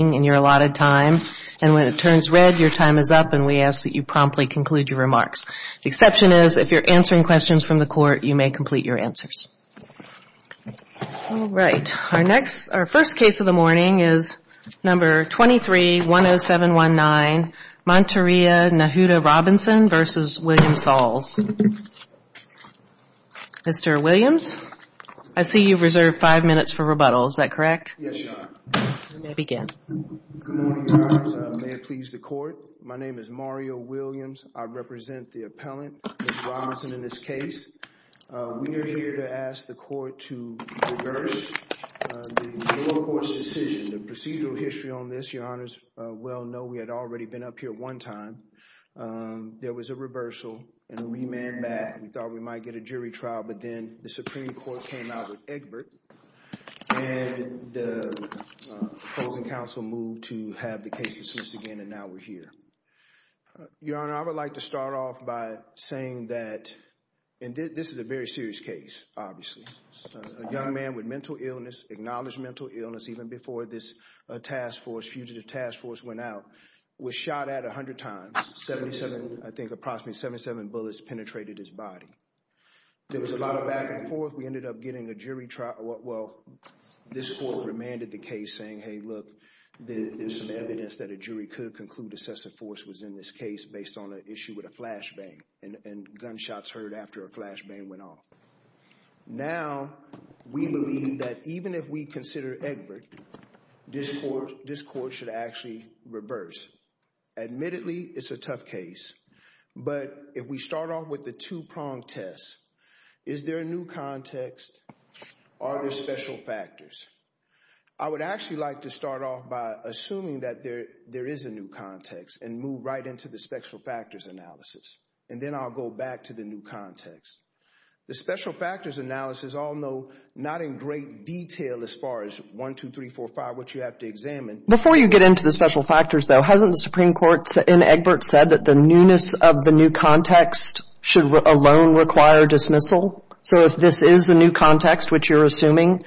and you're allotted time. And when it turns red, your time is up and we ask that you promptly conclude your remarks. The exception is if you're answering questions from the court, you may complete your answers. All right. Our next, our first case of the morning is number 23-10719, Monteria Nahuda Robinson v. William Sauls. Mr. Williams, I see you've reserved five minutes for rebuttal. Is that correct? Yes, Your Honor. You may begin. Good morning, Your Honors. May it please the court. My name is Mario Williams. I represent the appellant, Ms. Robinson, in this case. We are here to ask the court to reverse the lower court's decision, the procedural history on this. Your Honors well know we had already been up here one time. There was a reversal and a remand back. We thought we might get a jury trial, but then the Supreme Court came out with Egbert and the opposing counsel moved to have the case dismissed again and now we're here. Your Honor, I would like to start off by saying that, and this is a very serious case, obviously. A young man with mental illness, acknowledged mental illness even before this task force, fugitive task force went out, was shot at 100 times. 77, I think approximately 77 bullets penetrated his body. There was a lot of back and forth. We ended up getting a jury trial. Well, this court remanded the case saying, hey, look, there's some evidence that a jury could conclude excessive force was in this case based on an issue with a flash bang and gunshots heard after a flash bang went off. Now, we believe that even if we consider Egbert, this court should actually reverse. Admittedly, it's a tough case, but if we start off with the two prong test, is there a new context? Are there special factors? I would actually like to start off by assuming that there, there is a new context and move right into the special factors analysis. And then I'll go back to the new context. The special factors analysis, although not in great detail, as far as one, two, three, four, five, what you have to examine Before you get into the special factors, though, hasn't the Supreme Court in Egbert said that the newness of the new context should alone require dismissal? So if this is a new context, which you're assuming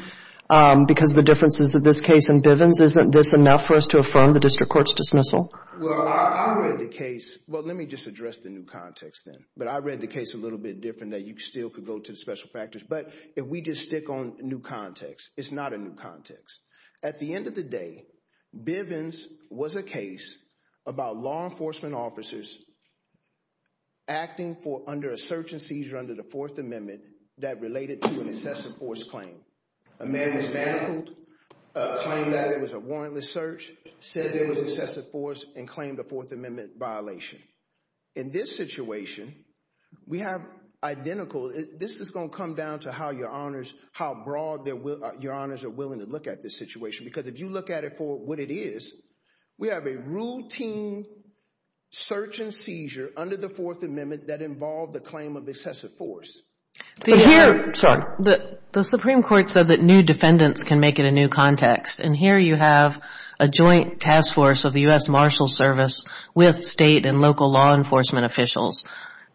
because of the differences of this case and Bivens, isn't this enough for us to affirm the district court's dismissal? Well, I read the case. Well, let me just address the new context then. But I read the case a little bit different that you still could go to the special factors. But if we just Bivens was a case about law enforcement officers acting for under a search and seizure under the fourth amendment that related to an excessive force claim. A man was manacled, claimed that it was a warrantless search, said there was excessive force and claimed a fourth amendment violation. In this situation, we have identical, this is going to come down to how your honors, how broad your honors are willing to look at this situation. Because if you look at for what it is, we have a routine search and seizure under the fourth amendment that involved the claim of excessive force. The Supreme Court said that new defendants can make it a new context. And here you have a joint task force of the U.S. Marshal Service with state and local law enforcement officials.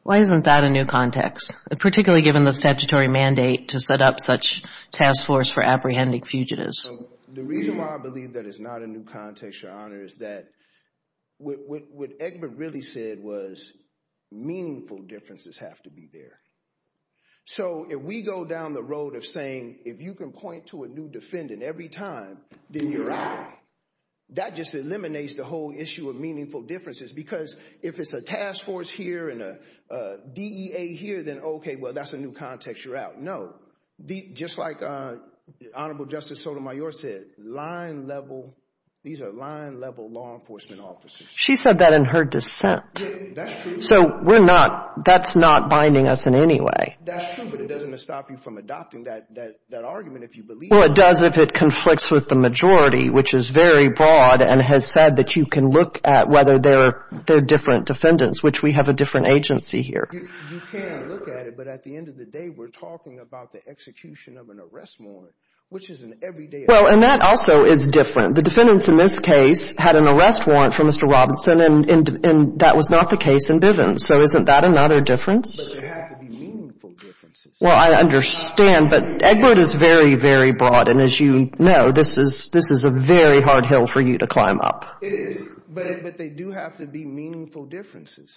Why isn't that a new context, particularly given the statutory mandate to set up such task force for apprehending fugitives? The reason why I believe that it's not a new context, your honor, is that what Egbert really said was meaningful differences have to be there. So if we go down the road of saying if you can point to a new defendant every time, then you're out. That just eliminates the whole issue of meaningful differences. Because if it's a task force here and a DEA here, then OK, well, that's a new context. You're out. No. Just like Honorable Justice Sotomayor said, line level, these are line level law enforcement officers. She said that in her dissent. That's true. So we're not, that's not binding us in any way. That's true, but it doesn't stop you from adopting that argument if you believe it. Well, it does if it conflicts with the majority, which is very broad and has said that you can look at whether they're different defendants, which we have a different agency here. You can look at it, but at the end of the day, we're talking about the execution of an arrest warrant, which is an everyday occurrence. Well, and that also is different. The defendants in this case had an arrest warrant for Mr. Robinson, and that was not the case in Divens. So isn't that another difference? But there have to be meaningful differences. Well, I understand, but Edward is very, very broad, and as you know, this is a very hard hill for you to climb up. It is, but they do have to be meaningful differences.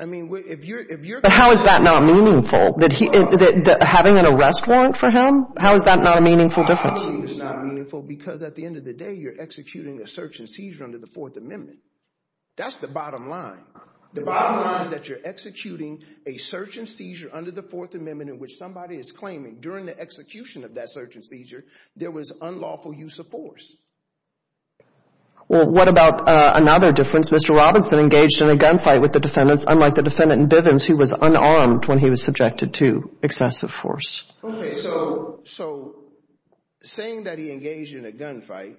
I mean, if you're But how is that not meaningful? Having an arrest warrant for him? How is that not a meaningful difference? It's not meaningful because at the end of the day, you're executing a search and seizure under the Fourth Amendment. That's the bottom line. The bottom line is that you're executing a search and seizure under the Fourth Amendment in which somebody is claiming during the execution of that search and seizure, there was unlawful use of force. Well, what about another difference? Mr. Robinson engaged in a gunfight with the defendants, unlike the defendant in Divens, who was unarmed when he was subjected to excessive force. Okay, so saying that he engaged in a gunfight,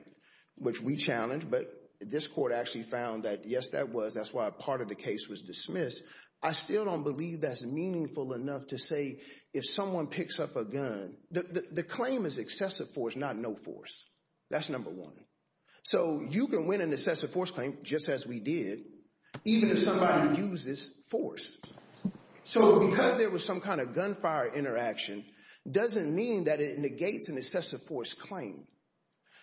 which we challenged, but this court actually found that yes, that was, that's why part of the case was dismissed. I still don't believe that's meaningful enough to say if someone picks up a gun, the claim is excessive force, not no force. That's number one. So you can win an excessive force claim, just as we did, even if somebody uses force. So because there was some kind of gunfire interaction, doesn't mean that it negates an excessive force claim.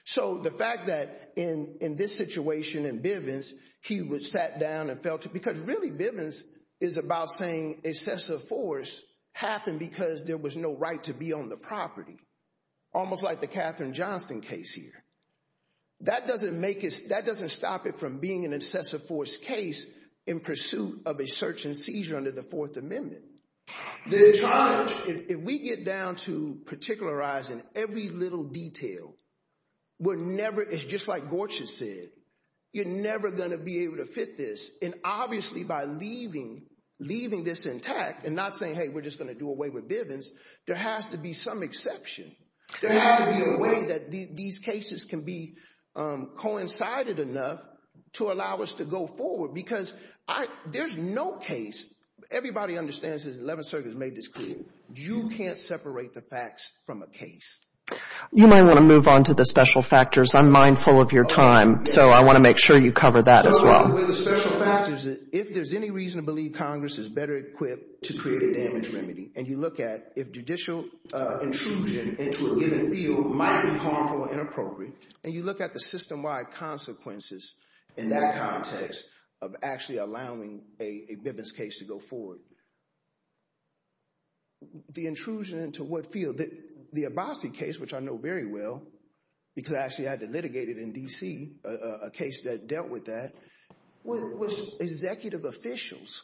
So the fact that in this situation in Divens, he would sat down and felt, because really Divens is about saying excessive force happened because there was no right to be on the property, almost like the Katherine Johnston case here. That doesn't make it, that doesn't stop it from being an excessive force case in pursuit of a search and seizure under the fourth amendment. If we get down to particularizing every little detail, we're never, it's just like Gorchus said, you're never going to be able to fit this. And obviously by leaving, leaving this intact and not saying, hey, we're just going to do away with Divens. There has to be some exception. There has to be a way that these cases can be coincided enough to allow us to go forward because there's no case, everybody understands this, the 11th Circuit has made this clear, you can't separate the facts from a case. You might want to move on to the special factors. I'm mindful of your time, so I want to make sure you cover that as well. So the special factors, if there's any reason to believe Congress is better equipped to create a damage remedy, and you look at if judicial intrusion into a given field might be harmful or inappropriate, and you look at the system-wide consequences in that context of actually allowing a Divens case to go forward, the intrusion into what field? The Abbasi case, which I know very well, because I actually had to litigate it in D.C., a case that dealt with that, was executive officials.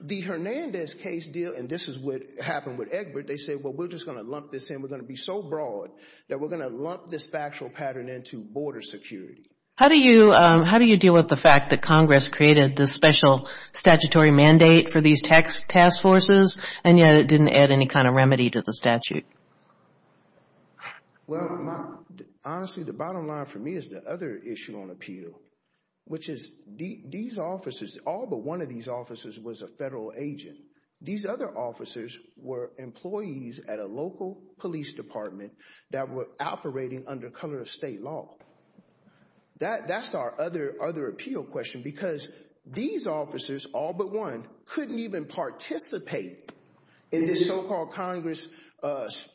The Hernandez case deal, and this is what happened with Egbert, they said, well, we're just going to lump this in. We're going to be so broad that we're going to lump this factual pattern into border security. How do you deal with the fact that Congress created this special statutory mandate for these task forces, and yet it didn't add any kind of remedy to the statute? Well, honestly, the bottom line for me is the other issue on appeal, which is all but one of these officers was a federal agent. These other officers were employees at a local police department that were operating under the color of state law. That's our other appeal question, because these officers, all but one, couldn't even participate in this so-called Congress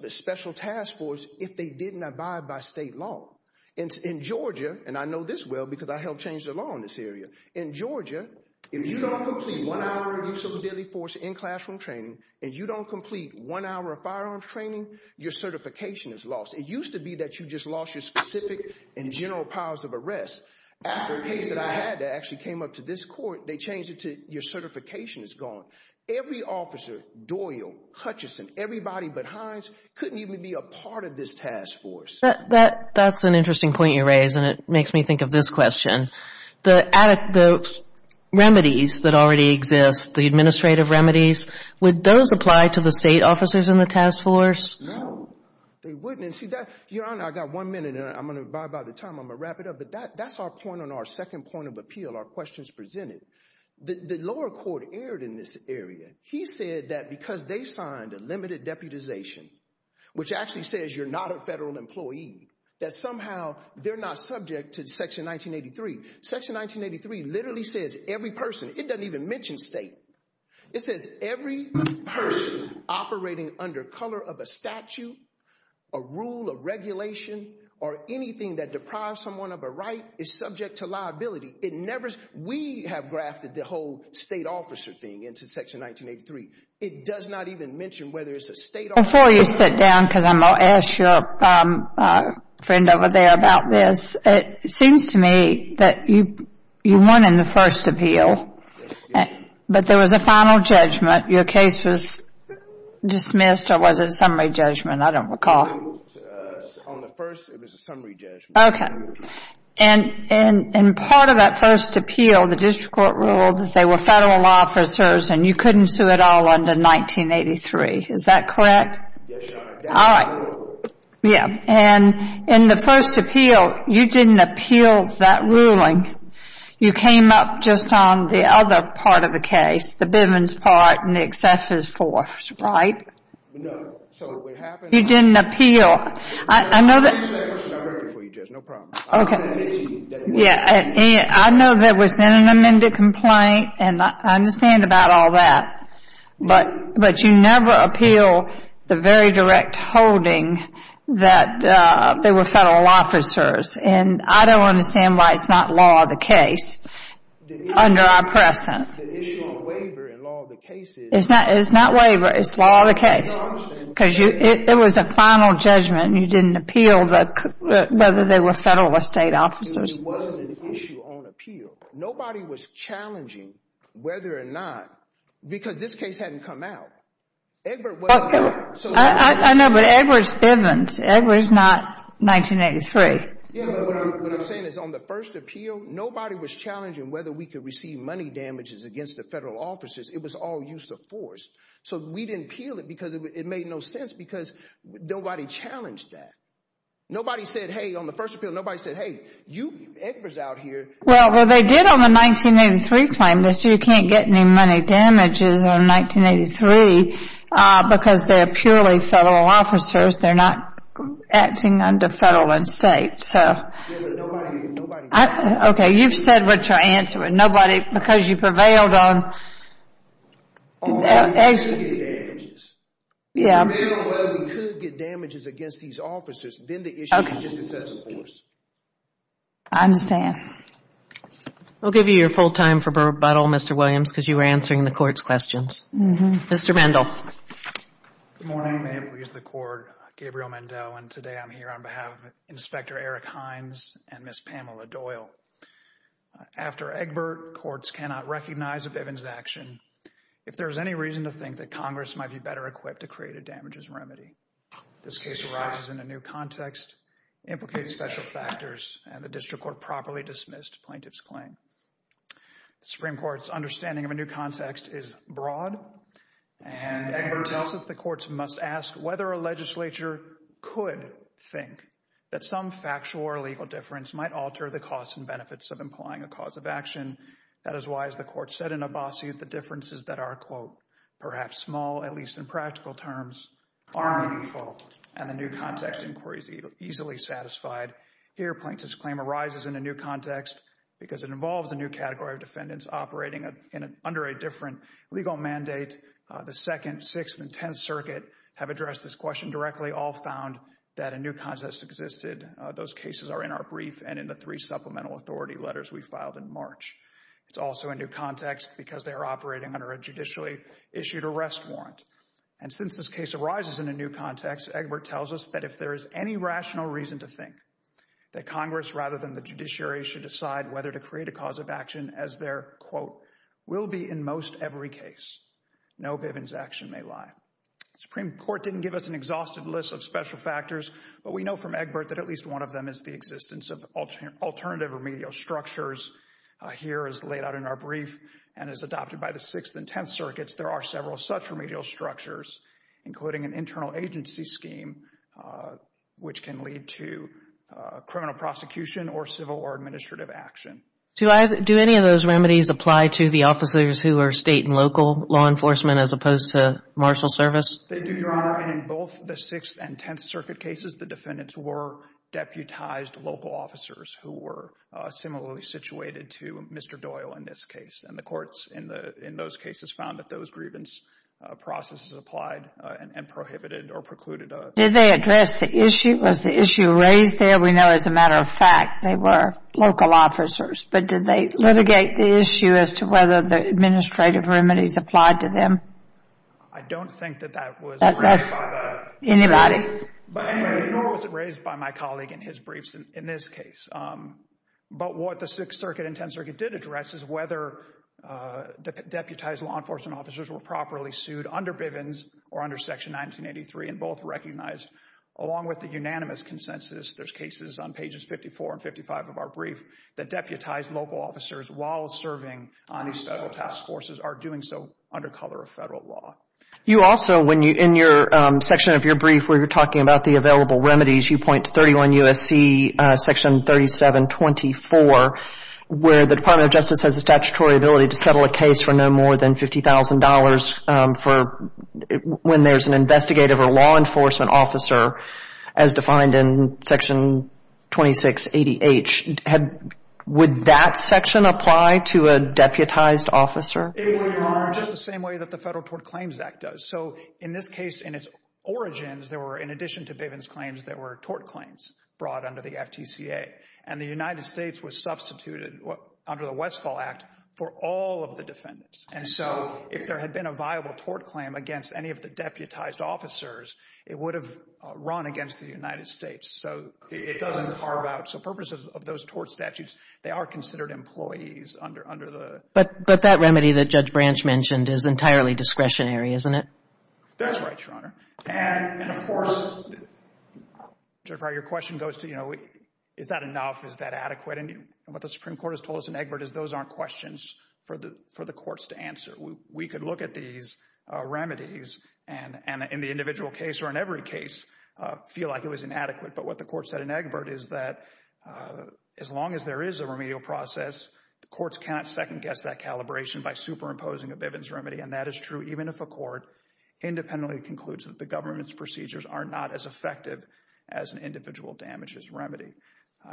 special task force if they didn't abide by state law. In Georgia, and I know this well because I helped change the law in this area, in Georgia, if you don't complete one hour of use of a deadly force in classroom training, and you don't complete one hour of firearms training, your certification is lost. It used to be that you just lost your specific and general powers of arrest. After a case that I had that actually came up to this court, they changed it to your certification is gone. Every officer, Doyle, Hutchison, everybody but Hines, couldn't even be a part of this task force. That's an interesting point you raise, and it makes me think of this question. The remedies that already exist, the administrative remedies, would those apply to the state officers in the task force? No. They wouldn't. Your Honor, I've got one minute, and I'm going to, by the time I'm going to wrap it up, but that's our point on our second point of appeal, our questions presented. The lower court erred in this area. He said that because they signed a limited deputization, which actually says you're not a federal employee, that somehow they're not subject to section 1983. Section 1983 literally says every person, it doesn't even mention state. It says every person operating under color of a statute, a rule, a regulation, or anything that deprives someone of a right is subject to liability. We have grafted the whole state officer thing into section 1983. It does not even mention whether it's a state officer. Before you sit down, because I'm going to ask your friend over there about this, it was a final judgment. Your case was dismissed, or was it a summary judgment? I don't recall. On the first, it was a summary judgment. Okay. In part of that first appeal, the district court ruled that they were federal officers and you couldn't sue at all under 1983. Is that correct? Yes, Your Honor. That was the rule. All right. Yeah. In the first appeal, you didn't appeal that ruling. You came up just on the other part of the case, the Bivens part, and the excesses force, right? No. So what happened was... You didn't appeal. I know that... I'm going to make a separate summary for you, Jess. No problem. Okay. I'm going to mention that it was... Yeah. I know there was then an amended complaint, and I understand about all that, but you never appeal the very direct holding that they were federal officers, and I don't understand why it's not law of the case under our present. The issue on waiver and law of the case is... It's not waiver. It's law of the case. I understand. Because it was a final judgment, and you didn't appeal whether they were federal or state officers. It wasn't an issue on appeal. Nobody was challenging whether or not... Because this case hadn't come out. Edward wasn't... I know, but Edward Bivens. Edward is not 1983. Yeah. What I'm saying is, on the first appeal, nobody was challenging whether we could receive money damages against the federal officers. It was all use of force, so we didn't appeal it because it made no sense, because nobody challenged that. Nobody said, hey, on the first appeal, nobody said, hey, you Edwards out here... Well, they did on the 1983 claim, they said you can't get any money damages on 1983 because they're purely federal officers. They're not acting under federal and state, so... Yeah, but nobody... Nobody... Okay. You've said what you're answering. Nobody... Because you prevailed on... On whether we could get damages. Yeah. If we prevail on whether we could get damages against these officers, then the issue is just excessive force. I understand. We'll give you your full time for rebuttal, Mr. Williams, because you were answering the court's questions. Mm-hmm. Mr. Mendel. Good morning, ma'am. Here's the court. and today I'm here on behalf of Inspector Eric Hines and Ms. Pamela Doyle. After Egbert, courts cannot recognize of Evans' action if there's any reason to think that Congress might be better equipped to create a damages remedy. This case arises in a new context, implicates special factors, and the district court properly dismissed plaintiff's claim. The Supreme Court's understanding of a new context is broad, and Egbert tells us the legislature could think that some factual or legal difference might alter the costs and benefits of implying a cause of action. That is why, as the court said in a base, the differences that are, quote, perhaps small, at least in practical terms, are meaningful, and the new context inquiry is easily satisfied. Here plaintiff's claim arises in a new context because it involves a new category of defendants operating under a different legal mandate. The Second, Sixth, and Tenth Circuit have addressed this question directly, all found that a new context existed. Those cases are in our brief and in the three supplemental authority letters we filed in March. It's also a new context because they are operating under a judicially issued arrest warrant. And since this case arises in a new context, Egbert tells us that if there is any rational reason to think that Congress, rather than the judiciary, should decide whether to create a cause of action as their, quote, will be in most every case, no Bivens action may lie. Supreme Court didn't give us an exhausted list of special factors, but we know from Egbert that at least one of them is the existence of alternative remedial structures. Here as laid out in our brief and as adopted by the Sixth and Tenth Circuits, there are several such remedial structures, including an internal agency scheme, which can lead to criminal prosecution or civil or administrative action. Do I, do any of those remedies apply to the officers who are state and local law enforcement as opposed to marshal service? They do, Your Honor. And in both the Sixth and Tenth Circuit cases, the defendants were deputized local officers who were similarly situated to Mr. Doyle in this case. And the courts in those cases found that those grievance processes applied and prohibited or precluded. Did they address the issue? Was the issue raised there? We know as a matter of fact, they were local officers, but did they litigate the issue as to whether the administrative remedies applied to them? I don't think that that was raised by the jury, but anyway, nor was it raised by my colleague in his briefs in this case. But what the Sixth Circuit and Tenth Circuit did address is whether deputized law enforcement officers were properly sued under Bivens or under Section 1983, and both recognized along with the unanimous consensus, there's cases on pages 54 and 55 of our brief, that deputized local officers while serving on these federal task forces are doing so under color of federal law. You also, in your section of your brief where you're talking about the available remedies, you point to 31 U.S.C. section 3724, where the Department of Justice has a statutory ability to settle a case for no more than $50,000 for when there's an investigative or law enforcement officer, as defined in Section 2680H. Would that section apply to a deputized officer? It would, Your Honor, just the same way that the Federal Tort Claims Act does. So in this case, in its origins, there were, in addition to Bivens claims, there were tort claims brought under the FTCA. And the United States was substituted under the Westfall Act for all of the defendants. And so, if there had been a viable tort claim against any of the deputized officers, it would have run against the United States. So it doesn't carve out, so purposes of those tort statutes, they are considered employees under the. But, but that remedy that Judge Branch mentioned is entirely discretionary, isn't it? That's right, Your Honor, and of course, Judge Breyer, your question goes to, you know, is that enough? Is that adequate? And what the Supreme Court has told us in Egbert is those aren't questions for the, the courts to answer. We could look at these remedies and, and in the individual case or in every case, feel like it was inadequate. But what the court said in Egbert is that as long as there is a remedial process, the courts cannot second guess that calibration by superimposing a Bivens remedy. And that is true even if a court independently concludes that the government's procedures are not as effective as an individual damages remedy.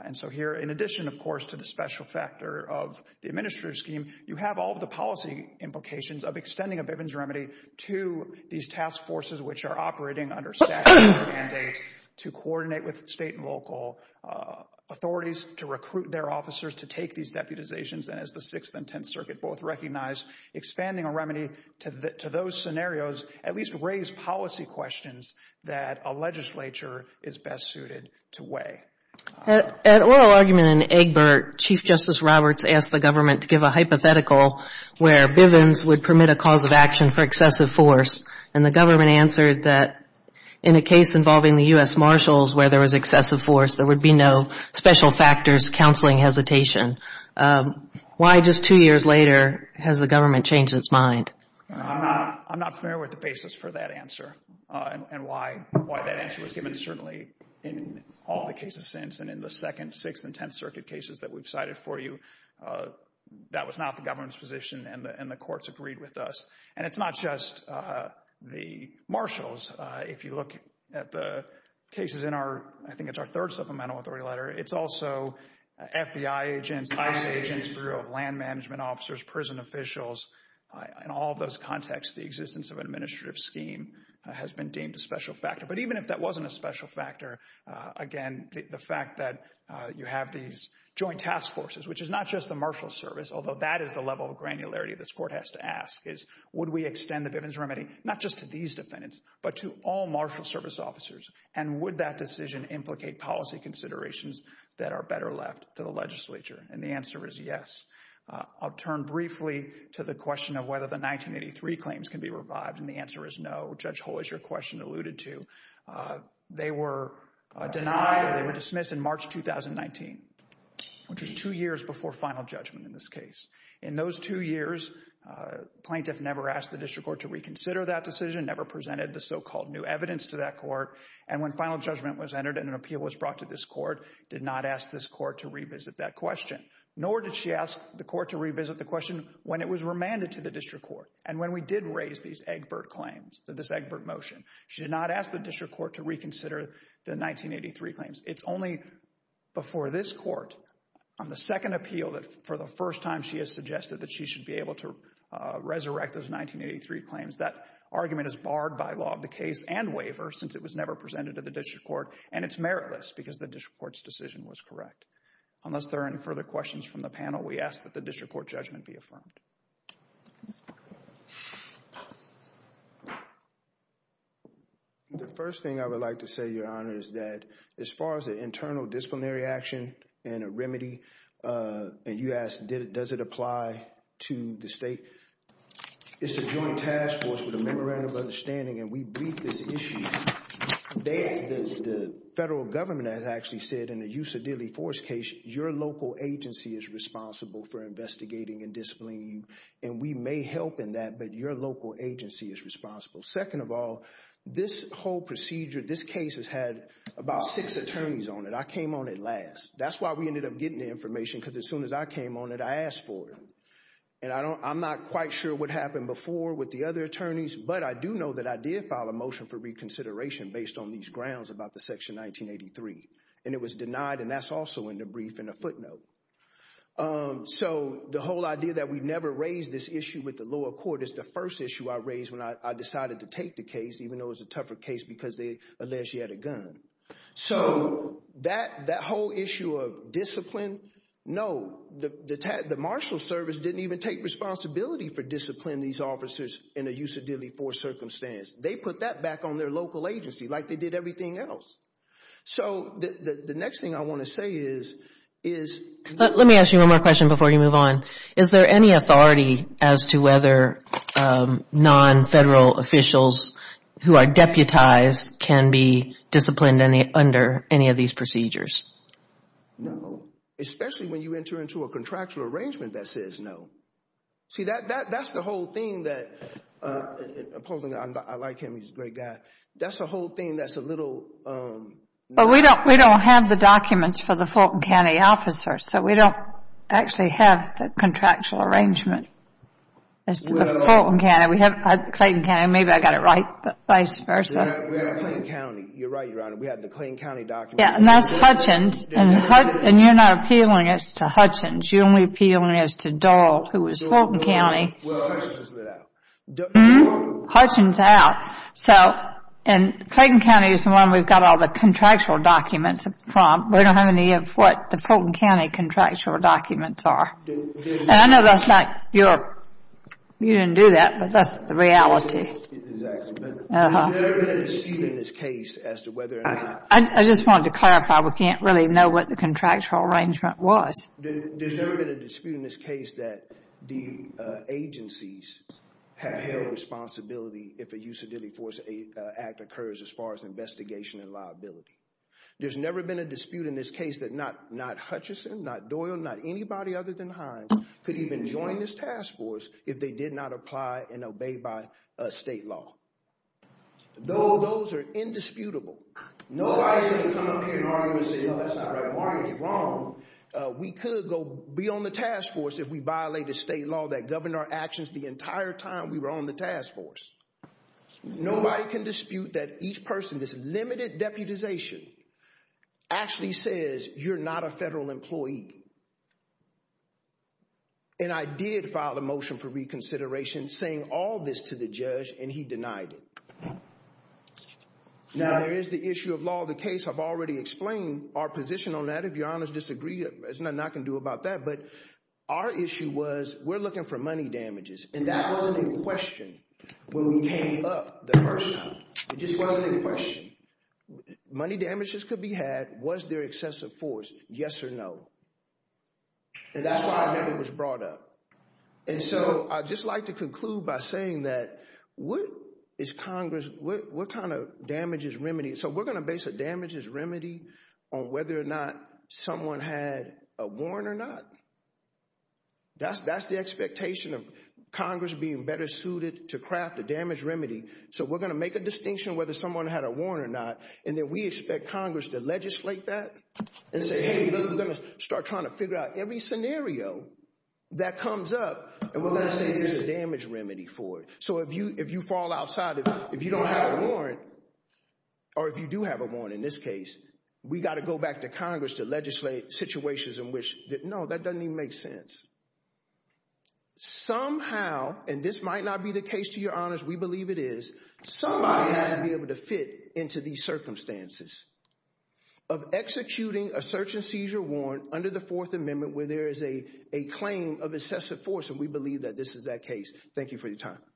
And so here, in addition, of course, to the special factor of the administrative scheme, you have all of the policy implications of extending a Bivens remedy to these task forces which are operating under statute and mandate to coordinate with state and local authorities to recruit their officers to take these deputizations and as the Sixth and Tenth Circuit both recognize, expanding a remedy to those scenarios at least raise policy questions that a legislature is best suited to weigh. At oral argument in Egbert, Chief Justice Roberts asked the government to give a hypothetical where Bivens would permit a cause of action for excessive force. And the government answered that in a case involving the U.S. Marshals where there was excessive force, there would be no special factors counseling hesitation. Why just two years later has the government changed its mind? I'm not, I'm not familiar with the basis for that answer and why, why that answer was given. And certainly in all the cases since and in the second, Sixth and Tenth Circuit cases that we've cited for you, that was not the government's position and the courts agreed with us. And it's not just the Marshals. If you look at the cases in our, I think it's our third supplemental authority letter, it's also FBI agents, ICE agents, Bureau of Land Management officers, prison officials, in all of those contexts, the existence of administrative scheme has been deemed a special factor. But even if that wasn't a special factor, again, the fact that you have these joint task forces, which is not just the Marshals service, although that is the level of granularity this court has to ask is, would we extend the Bivens remedy not just to these defendants, but to all Marshals service officers? And would that decision implicate policy considerations that are better left to the legislature? And the answer is yes. I'll turn briefly to the question of whether the 1983 claims can be revived. And the answer is no. Judge Hull, as your question alluded to, they were denied or they were dismissed in March 2019, which was two years before final judgment in this case. In those two years, plaintiff never asked the district court to reconsider that decision, never presented the so-called new evidence to that court. And when final judgment was entered and an appeal was brought to this court, did not ask this court to revisit that question. Nor did she ask the court to revisit the question when it was remanded to the district court. And when we did raise these Egbert claims, this Egbert motion, she did not ask the district court to reconsider the 1983 claims. It's only before this court on the second appeal that for the first time she has suggested that she should be able to resurrect those 1983 claims. That argument is barred by law of the case and waiver since it was never presented to the district court. And it's meritless because the district court's decision was correct. Unless there are any further questions from the panel, we ask that the district court judgment be affirmed. The first thing I would like to say, Your Honor, is that as far as the internal disciplinary action and a remedy, and you asked does it apply to the state, it's a joint task force with a memorandum of understanding, and we briefed this issue. The federal government has actually said in the Usa Dilley Force case, your local agency is responsible for investigating and disciplining, and we may help in that, but your local agency is responsible. Second of all, this whole procedure, this case has had about six attorneys on it. I came on it last. That's why we ended up getting the information, because as soon as I came on it, I asked for it. And I'm not quite sure what happened before with the other attorneys, but I do know that I did file a motion for reconsideration based on these grounds about the section 1983. And it was denied, and that's also in the brief in the footnote. So the whole idea that we never raised this issue with the lower court is the first issue I raised when I decided to take the case, even though it was a tougher case because they alleged she had a gun. So that whole issue of discipline, no, the marshal service didn't even take responsibility for disciplining these officers in a Usa Dilley Force circumstance. They put that back on their local agency, like they did everything else. So the next thing I want to say is... Let me ask you one more question before you move on. Is there any authority as to whether non-federal officials who are deputized can be disciplined under any of these procedures? No. Especially when you enter into a contractual arrangement that says no. See, that's the whole thing that... I like him, he's a great guy. That's the whole thing that's a little... But we don't have the documents for the Fulton County officers, so we don't actually have the contractual arrangement as to the Fulton County. We have Clayton County. Maybe I got it right, but vice versa. We have Clayton County. You're right, Your Honor. We have the Clayton County documents. Yeah, and that's Hutchins. And you're not appealing it to Hutchins. You're only appealing it to Dole, who was Fulton County. Well, Hutchins was let out. Dole? Hutchins out. So, and Clayton County is the one we've got all the contractual documents from. We don't have any of what the Fulton County contractual documents are. And I know that's not your... You didn't do that, but that's the reality. Exactly. But there's never been a dispute in this case as to whether or not... I just wanted to clarify, we can't really know what the contractual arrangement was. There's never been a dispute in this case that the agencies have held responsibility if a use of duty force act occurs as far as investigation and liability. There's never been a dispute in this case that not Hutchinson, not Doyle, not anybody other than Hines could even join this task force if they did not apply and obey by state law. Dole? Those are indisputable. Nobody's going to come up here and argue and say, no, that's not right. Martin is wrong. We could go be on the task force if we violate the state law that governed our actions the Nobody can dispute that each person, this limited deputization, actually says you're not a federal employee. And I did file a motion for reconsideration saying all this to the judge and he denied it. Now, there is the issue of law. The case, I've already explained our position on that. If your honors disagree, there's nothing I can do about that. But our issue was we're looking for money damages and that wasn't a question when we came up the first time. It just wasn't a question. Money damages could be had. Was there excessive force? Yes or no. And that's why I know it was brought up. And so I'd just like to conclude by saying that what is Congress, what kind of damages remedy? So we're going to base a damages remedy on whether or not someone had a warrant or not. That's the expectation of Congress being better suited to craft a damage remedy. So we're going to make a distinction whether someone had a warrant or not. And then we expect Congress to legislate that and say, hey, we're going to start trying to figure out every scenario that comes up and we're going to say there's a damage remedy for it. So if you fall outside, if you don't have a warrant, or if you do have a warrant in this case, we got to go back to Congress to legislate situations in which, no, that doesn't even make sense. Somehow, and this might not be the case to your honors, we believe it is, somebody has to be able to fit into these circumstances of executing a search and seizure warrant under the Fourth Amendment where there is a claim of excessive force. And we believe that this is that case. Thank you for your time.